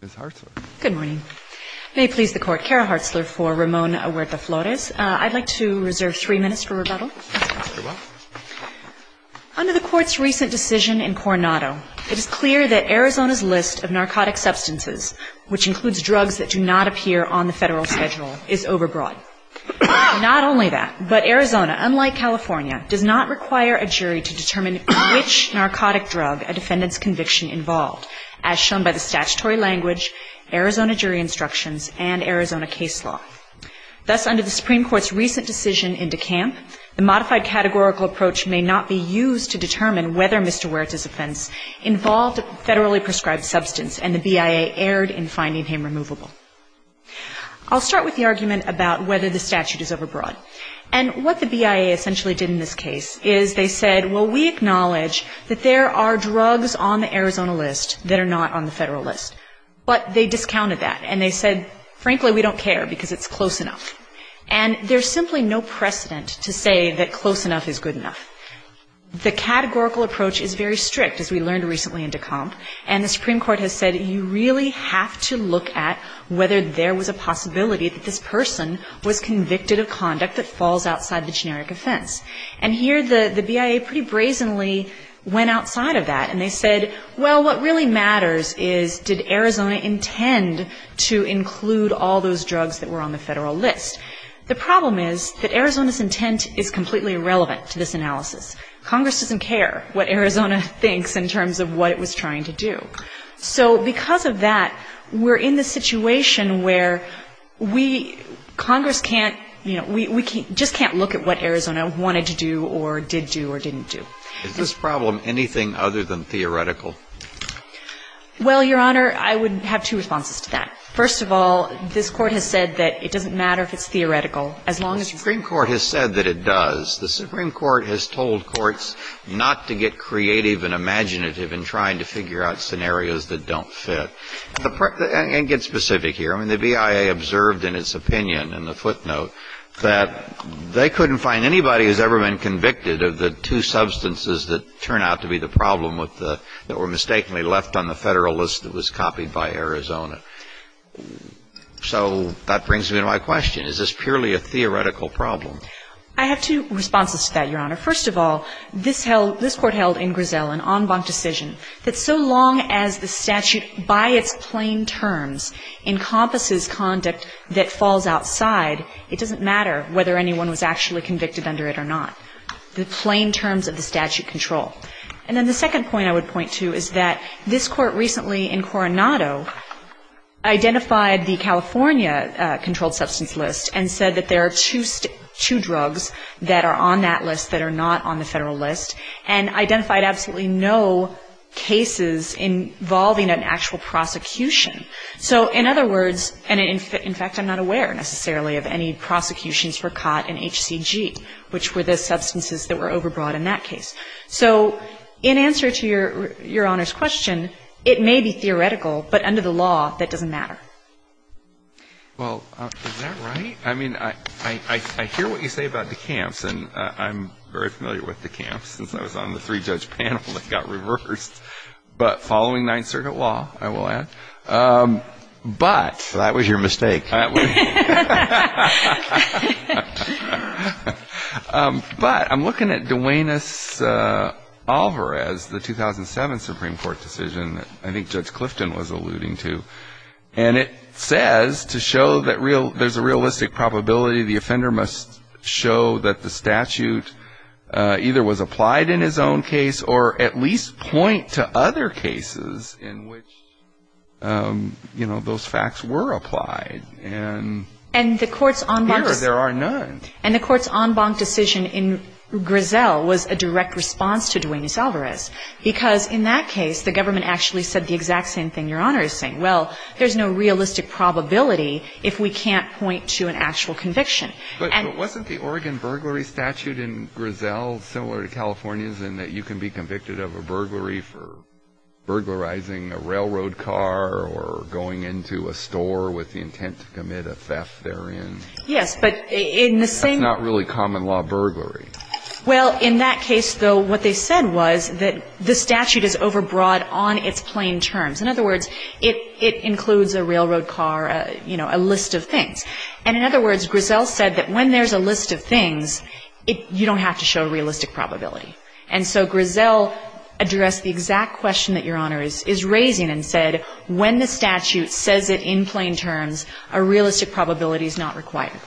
Ms. Hartzler. Good morning. May it please the Court, Cara Hartzler for Ramon Huerta-Flores. I'd like to reserve three minutes for rebuttal. Under the Court's recent decision in Coronado, it is clear that Arizona's list of narcotic substances, which includes drugs that do not appear on the Federal schedule, is overbroad. Not only that, but Arizona, unlike California, does not require a jury to determine which narcotic drug a defendant's conviction involved, as shown by the statutory language, Arizona jury instructions, and Arizona case law. Thus, under the Supreme Court's recent decision in DeCamp, the modified categorical approach may not be used to determine whether Mr. Huerta's offense involved federally prescribed substance and the BIA erred in finding him removable. I'll start with the argument about whether the statute is overbroad. And what the BIA essentially did in this case is they said, well, we acknowledge that there are drugs on the Arizona list that are not on the Federal list. But they discounted that and they said, frankly, we don't care because it's close enough. And there's simply no precedent to say that close enough is good enough. The categorical approach is very strict, as we learned recently in DeCamp, and the Supreme Court has said you really have to look at whether there was a possibility that this person was convicted of conduct that falls outside the generic offense. And here the BIA pretty brazenly went outside of that and they said, well, what really matters is did Arizona intend to include all those drugs that were on the Federal list. The problem is that Arizona's intent is completely irrelevant to this analysis. Congress doesn't care what Arizona thinks in terms of what it was trying to do. So because of that, we're in this situation where we, Congress can't, you know, we just can't look at what Arizona wanted to do or did do or didn't do. Is this problem anything other than theoretical? Well, Your Honor, I would have two responses to that. First of all, this Court has said that it doesn't matter if it's theoretical as long as you follow it. The Supreme Court has said that it does. The Supreme Court has told courts not to get creative and imaginative in trying to figure out scenarios that don't fit. And get specific here. I mean, the BIA observed in its opinion in the footnote that they couldn't find anybody who's ever been convicted of the two substances that turn out to be the problem with the, that were mistakenly left on the Federal list that was copied by Arizona. So that brings me to my question. Is this purely a theoretical problem? I have two responses to that, Your Honor. First of all, this held, this Court held in Griselle an en banc decision that so long as the statute by its plain terms encompasses conduct that falls outside, it doesn't matter whether anyone was actually convicted under it or not. The plain terms of the statute control. And then the second point I would point to is that this Court recently in Coronado identified the California controlled substance list and said that there are two drugs that are on that list that are not on the Federal list and identified absolutely no cases involving an actual prosecution. So in other words, and in fact, I'm not aware necessarily of any prosecutions for COT and HCG, which were the substances that were overbrought in that case. So in answer to Your Honor's question, it may be theoretical, but under the law that doesn't matter. Well, is that right? I mean, I hear what you say about decamps, and I'm very familiar with decamps since I was on the three-judge panel that got reversed. But following Ninth Circuit law, I will add. So that was your mistake. But I'm looking at Duenas-Alvarez, the 2007 Supreme Court decision that I think Judge Clifton was alluding to, and it says to show that there's a realistic probability the offender must show that the statute either was applied in his own case or at least point to other cases in which, you know, those facts were applied. And here there are none. And the Court's en banc decision in Griselle was a direct response to Duenas-Alvarez because in that case the government actually said the exact same thing Your Honor is saying. Well, there's no realistic probability if we can't point to an actual conviction. But wasn't the Oregon burglary statute in Griselle similar to California's in that you can be convicted of a burglary for burglarizing a railroad car or going into a store with the intent to commit a theft therein? Yes, but in the same That's not really common law burglary. Well, in that case, though, what they said was that the statute is overbroad on its plain terms. In other words, it includes a railroad car, you know, a list of things. And in other words, Griselle said that when there's a list of things, you don't have to show realistic probability. And so Griselle addressed the exact question that Your Honor is raising and said when the statute says it in plain terms, a realistic probability is not required.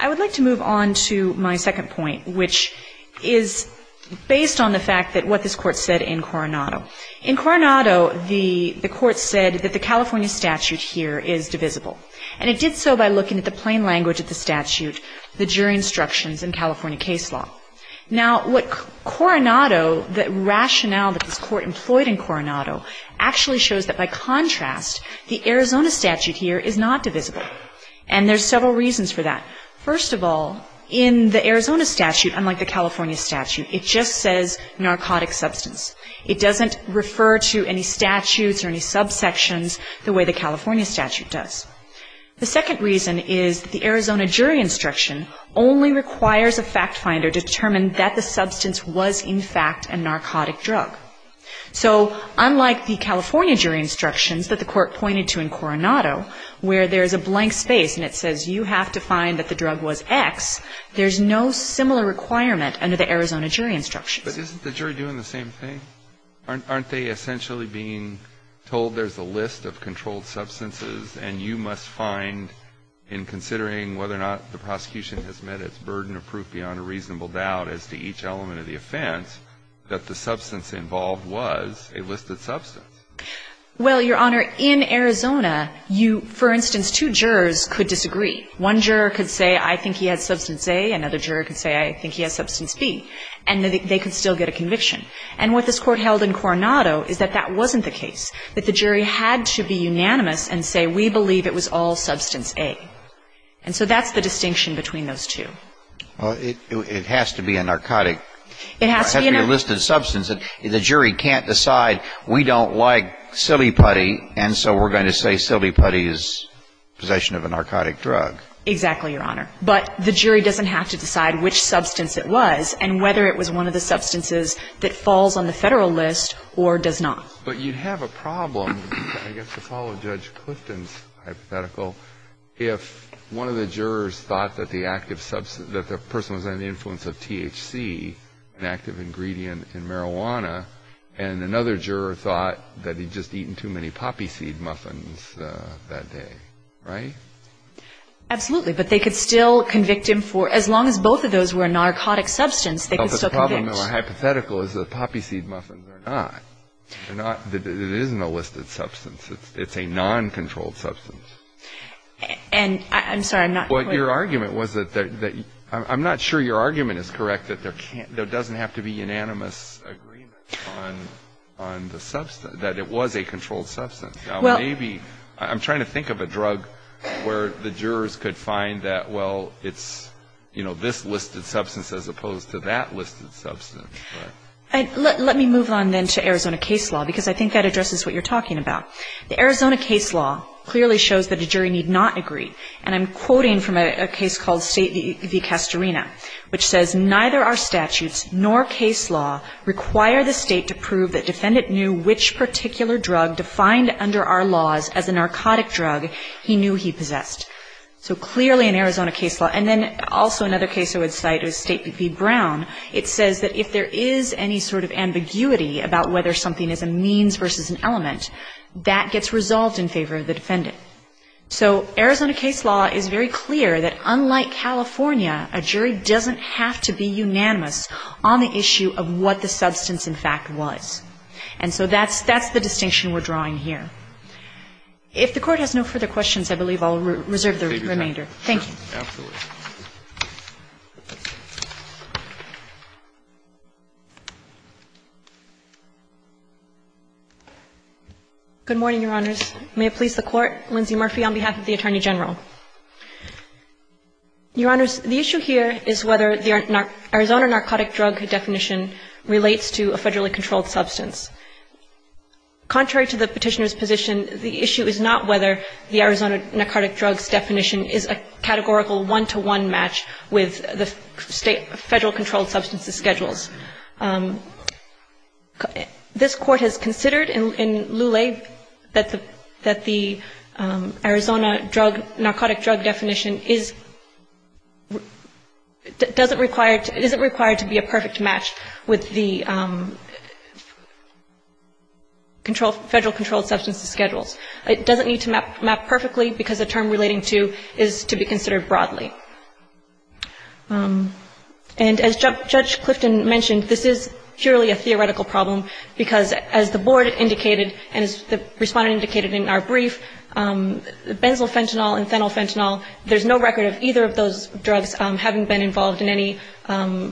I would like to move on to my second point, which is based on the fact that what this Court said in Coronado. In Coronado, the Court said that the California statute here is divisible. And it did so by looking at the plain language of the statute, the jury instructions in California case law. Now, what Coronado, the rationale that this Court employed in Coronado actually shows that by contrast, the Arizona statute here is not divisible. And there's several reasons for that. First of all, in the Arizona statute, unlike the California statute, it just says narcotic substance. It doesn't refer to any statutes or any subsections the way the California statute does. The second reason is the Arizona jury instruction only requires a fact finder to determine that the substance was in fact a narcotic drug. So unlike the California jury instructions that the Court pointed to in Coronado where there's a blank space and it says you have to find that the drug was X, there's no similar requirement under the Arizona jury instructions. But isn't the jury doing the same thing? Aren't they essentially being told there's a list of controlled substances and you must find in considering whether or not the prosecution has met its burden of proof beyond a reasonable doubt as to each element of the offense that the substance involved was a listed substance? Well, Your Honor, in Arizona, you, for instance, two jurors could disagree. One juror could say, I think he has substance A. Another juror could say, I think he has substance B. And they could still get a conviction. And what this Court held in Coronado is that that wasn't the case, that the jury had to be unanimous and say we believe it was all substance A. And so that's the distinction between those two. Well, it has to be a narcotic. It has to be a listed substance. The jury can't decide we don't like silly putty and so we're going to say silly putty is possession of a narcotic drug. Exactly, Your Honor. But the jury doesn't have to decide which substance it was and whether it was one of the substances that falls on the Federal list or does not. But you'd have a problem, I guess, to follow Judge Clifton's hypothetical if one of the jurors thought that the active substance, that the person was under the influence of THC, an active ingredient in marijuana, and another juror thought that he'd just eaten too many poppy seed muffins that day, right? Absolutely. But they could still convict him for, as long as both of those were a narcotic substance, they could still convict. Well, the problem in my hypothetical is that poppy seed muffins are not. They're not. It isn't a listed substance. It's a noncontrolled substance. And I'm sorry, I'm not quite. Well, your argument was that, I'm not sure your argument is correct that there doesn't have to be unanimous agreement on the substance, that it was a controlled substance. Well, maybe. I'm trying to think of a drug where the jurors could find that, well, it's, you know, this listed substance as opposed to that listed substance. Let me move on then to Arizona case law, because I think that addresses what you're talking about. The Arizona case law clearly shows that a jury need not agree. And I'm quoting from a case called State v. Castorina, which says, Neither our statutes nor case law require the State to prove that defendant knew which particular drug defined under our laws as a narcotic drug he knew he possessed. So clearly in Arizona case law. And then also another case I would cite is State v. Brown. It says that if there is any sort of ambiguity about whether something is a means versus an element, that gets resolved in favor of the defendant. So Arizona case law is very clear that, unlike California, a jury doesn't have to be unanimous on the issue of what the substance, in fact, was. And so that's the distinction we're drawing here. If the Court has no further questions, I believe I'll reserve the remainder. Thank you. Absolutely. Good morning, Your Honors. May it please the Court. Lindsay Murphy on behalf of the Attorney General. Your Honors, the issue here is whether the Arizona narcotic drug definition relates to a federally controlled substance. Contrary to the Petitioner's position, the issue is not whether the Arizona narcotic drug's definition is a categorical one-to-one match with the Federal controlled substance's schedules. This Court has considered in Lulee that the Arizona drug, narcotic drug definition isn't required to be a perfect match with the Federal controlled substance's schedules. It doesn't need to map perfectly, because a term relating to is to be considered broadly. And as Judge Clifton mentioned, this is purely a theoretical problem, because as the Board indicated and as the Respondent indicated in our brief, benzylfentanyl and phenylfentanyl, there's no record of either of those drugs having been involved in any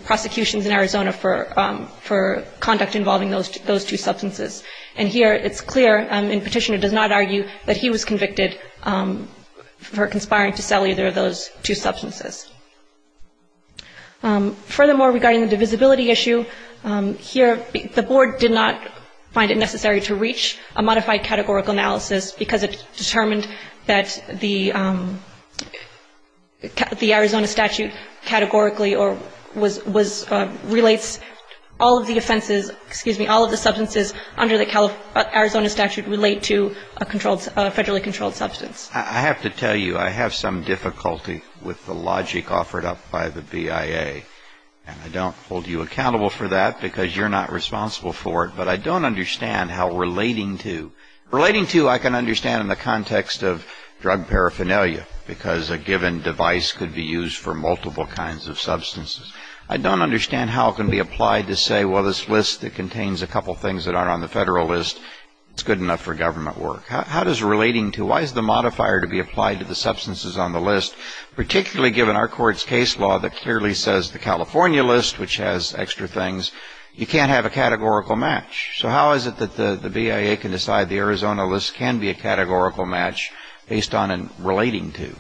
prosecutions in Arizona for conduct involving those two substances. And here it's clear, and Petitioner does not argue, that he was convicted for conspiring to sell either of those two substances. Furthermore, regarding the divisibility issue, here the Board did not find it appropriate to say that the Arizona statute categorically or was, relates all of the offenses, excuse me, all of the substances under the Arizona statute relate to a controlled, a Federally controlled substance. I have to tell you, I have some difficulty with the logic offered up by the BIA. And I don't hold you accountable for that, because you're not responsible for it. But I don't understand how relating to, relating to I can understand in the Federalist, I can tell you, because a given device could be used for multiple kinds of substances. I don't understand how it can be applied to say, well, this list, it contains a couple things that aren't on the Federalist, it's good enough for government work. How does relating to, why is the modifier to be applied to the substances on the list, particularly given our Court's case law that clearly says the California list, which has extra things, you can't have a categorical match. So how is it that the BIA can decide the Arizona list can be a categorical match based on a relating to?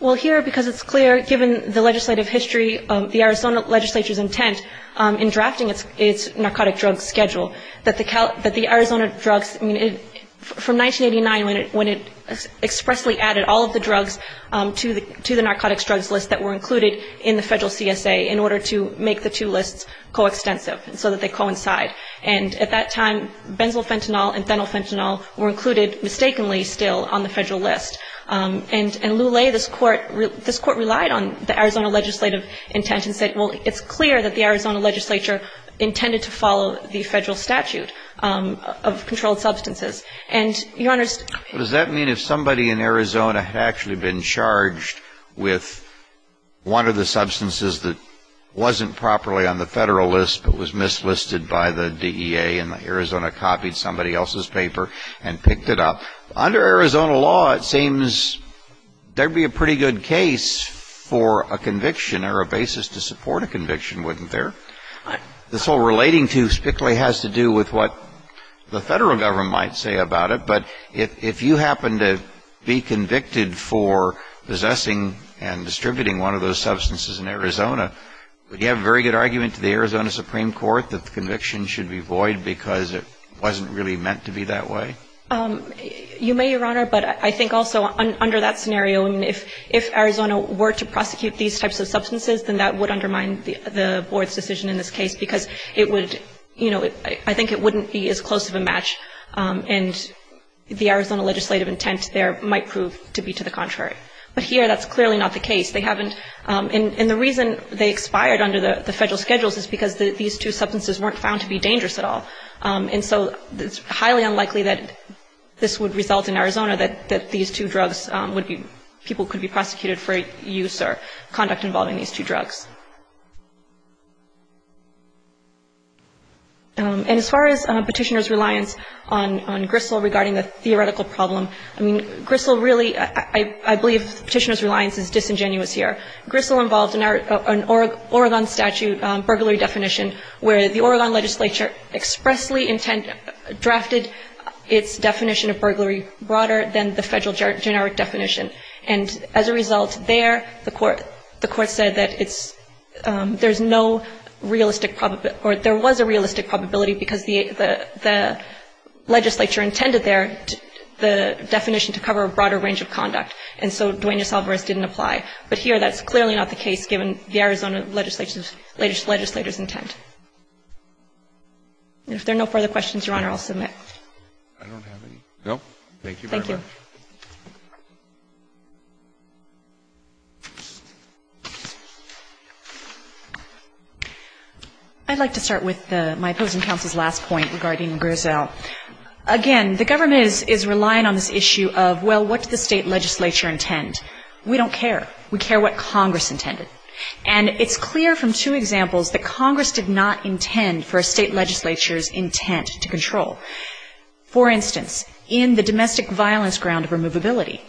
Well, here, because it's clear, given the legislative history, the Arizona legislature's intent in drafting its narcotic drug schedule, that the Arizona drugs, I mean, from 1989 when it expressly added all of the drugs to the narcotics drugs list that were included in the Federal CSA in order to make the two lists coextensive so that they coincide. And at that time, benzoyl fentanyl and phenyl fentanyl were included mistakenly still on the Federalist. And in Lulay, this Court relied on the Arizona legislative intent and said, well, it's clear that the Arizona legislature intended to follow the Federal statute of controlled substances. And, Your Honor, But does that mean if somebody in Arizona had actually been charged with one of the substances that wasn't properly on the Federalist but was mislisted by the BIA and Arizona copied somebody else's paper and picked it up, under Arizona law, it seems there would be a pretty good case for a conviction or a basis to support a conviction, wouldn't there? This whole relating to specifically has to do with what the Federal government might say about it. But if you happen to be convicted for possessing and distributing one of those substances in Arizona, would you have a very good argument to the Arizona Supreme Court that the conviction should be void because it wasn't really meant to be that way? You may, Your Honor. But I think also under that scenario, if Arizona were to prosecute these types of substances, then that would undermine the Board's decision in this case because it would, you know, I think it wouldn't be as close of a match. And the Arizona legislative intent there might prove to be to the contrary. But here that's clearly not the case. And the reason they expired under the Federal schedules is because these two substances weren't found to be dangerous at all. And so it's highly unlikely that this would result in Arizona that these two drugs would be, people could be prosecuted for use or conduct involving these two drugs. And as far as Petitioner's reliance on Gristle regarding the theoretical problem, I mean, Gristle really, I believe Petitioner's reliance is disingenuous here. Gristle involved an Oregon statute burglary definition where the Oregon legislature expressly drafted its definition of burglary broader than the Federal generic definition. And as a result there, the court said that it's, there's no realistic probability or there was a realistic probability because the legislature intended there the definition to cover a broader range of conduct. And so Duenas-Alvarez didn't apply. But here that's clearly not the case given the Arizona legislature's intent. If there are no further questions, Your Honor, I'll submit. I don't have any. No? Thank you very much. Thank you. I'd like to start with my opposing counsel's last point regarding Gristle. Again, the government is relying on this issue of, well, what does the state legislature intend? We don't care. We care what Congress intended. And it's clear from two examples that Congress did not intend for a state legislature's intent to control. For instance, in the domestic violence ground of removability,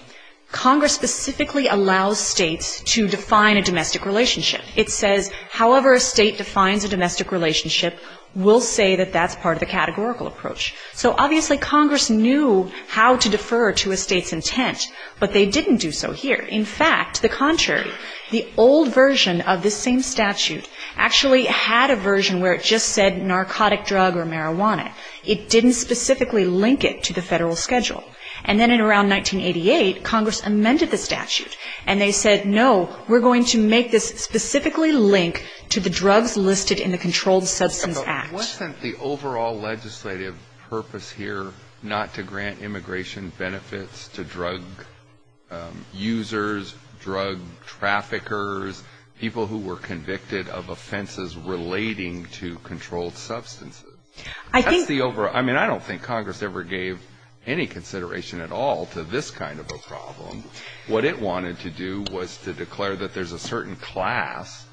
Congress specifically allows states to define a domestic relationship. It says however a state defines a domestic relationship, we'll say that that's part of the categorical approach. So obviously Congress knew how to defer to a state's intent. But they didn't do so here. In fact, the contrary, the old version of this same statute actually had a version where it just said narcotic drug or marijuana. It didn't specifically link it to the federal schedule. And then in around 1988, Congress amended the statute. And they said, no, we're going to make this specifically link to the drugs listed in the Controlled Substance Act. But wasn't the overall legislative purpose here not to grant immigration benefits to drug users, drug traffickers, people who were convicted of offenses relating to controlled substances? I mean, I don't think Congress ever gave any consideration at all to this kind of a problem. What it wanted to do was to declare that there's a certain class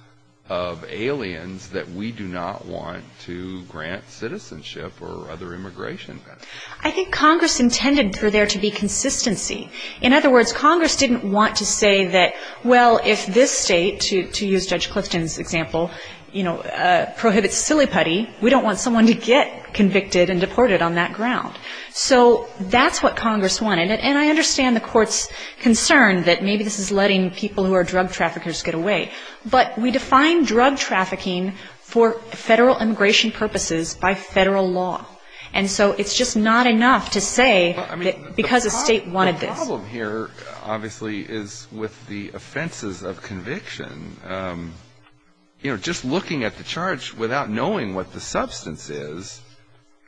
of aliens that we do not want to grant citizenship or other immigration benefits. I think Congress intended for there to be consistency. In other words, Congress didn't want to say that, well, if this state, to use Judge Clifton's example, you know, prohibits silly putty, we don't want someone to get convicted and deported on that ground. So that's what Congress wanted. And I understand the court's concern that maybe this is letting people who are drug traffickers get away. But we define drug trafficking for federal immigration purposes by federal law. And so it's just not enough to say that because a state wanted this. The problem here, obviously, is with the offenses of conviction. You know, just looking at the charge without knowing what the substance is,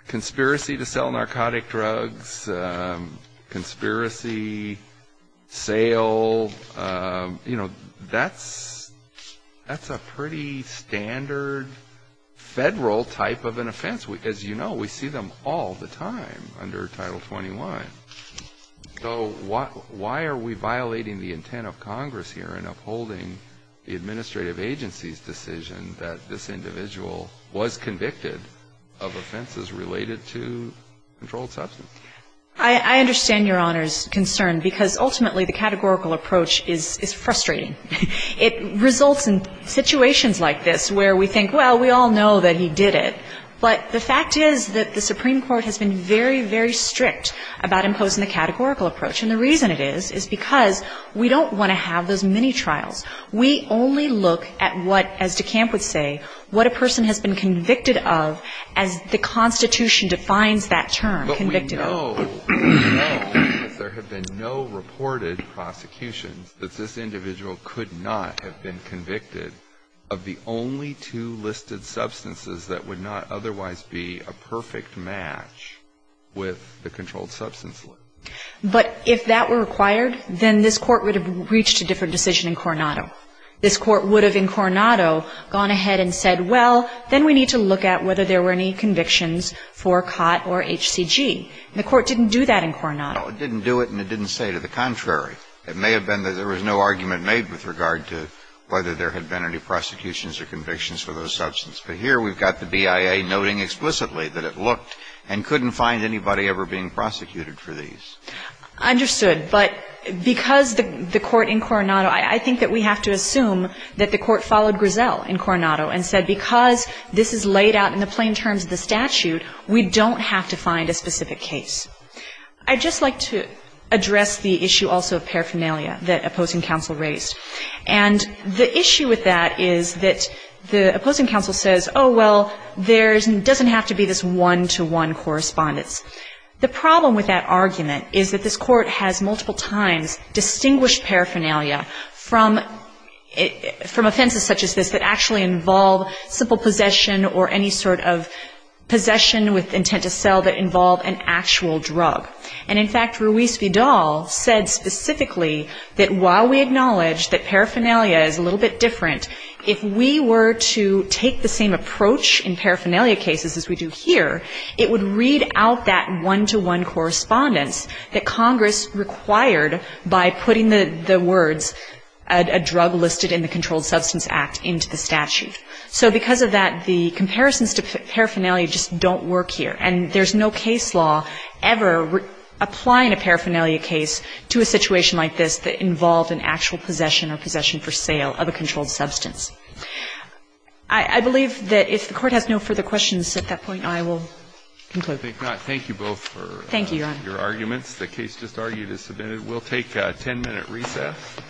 conspiracy to sell narcotic drugs, conspiracy, sale, you know, that's a pretty standard federal type of an offense. As you know, we see them all the time under Title 21. So why are we violating the intent of Congress here in upholding the administrative agency's decision that this individual was convicted of offenses related to controlled substance? I understand Your Honor's concern because ultimately the categorical approach is frustrating. It results in situations like this where we think, well, we all know that he did it. But the fact is that the Supreme Court has been very, very strict about imposing the categorical approach. And the reason it is is because we don't want to have those mini-trials. We only look at what, as DeCamp would say, what a person has been convicted of as the Constitution defines that term, convicted of. We know that there have been no reported prosecutions that this individual could not have been convicted of the only two listed substances that would not otherwise be a perfect match with the controlled substance. But if that were required, then this Court would have reached a different decision in Coronado. This Court would have, in Coronado, gone ahead and said, well, then we need to look at whether there were any convictions for COT or HCG. And the Court didn't do that in Coronado. No, it didn't do it and it didn't say to the contrary. It may have been that there was no argument made with regard to whether there had been any prosecutions or convictions for those substances. But here we've got the BIA noting explicitly that it looked and couldn't find anybody ever being prosecuted for these. Understood. But because the Court in Coronado, I think that we have to assume that the Court followed Griselle in Coronado and said because this is laid out in the plain terms of the statute, we don't have to find a specific case. I'd just like to address the issue also of paraphernalia that opposing counsel raised. And the issue with that is that the opposing counsel says, oh, well, there doesn't have to be this one-to-one correspondence. The problem with that argument is that this Court has multiple times distinguished paraphernalia from offenses such as this that actually involve simple possession or any sort of possession with intent to sell that involve an actual drug. And, in fact, Ruiz Vidal said specifically that while we acknowledge that paraphernalia is a little bit different, if we were to take the same approach in paraphernalia cases as we do here, it would read out that one-to-one correspondence that Congress required by putting the words a drug listed in the Controlled Substance Act into the statute. So because of that, the comparisons to paraphernalia just don't work here, and there's no case law ever applying a paraphernalia case to a situation like this that involved an actual possession or possession for sale of a controlled substance. I believe that if the Court has no further questions at that point, I will conclude. Thank you both for your arguments. Thank you, Your Honor. The case just argued is submitted. We'll take a 10-minute recess.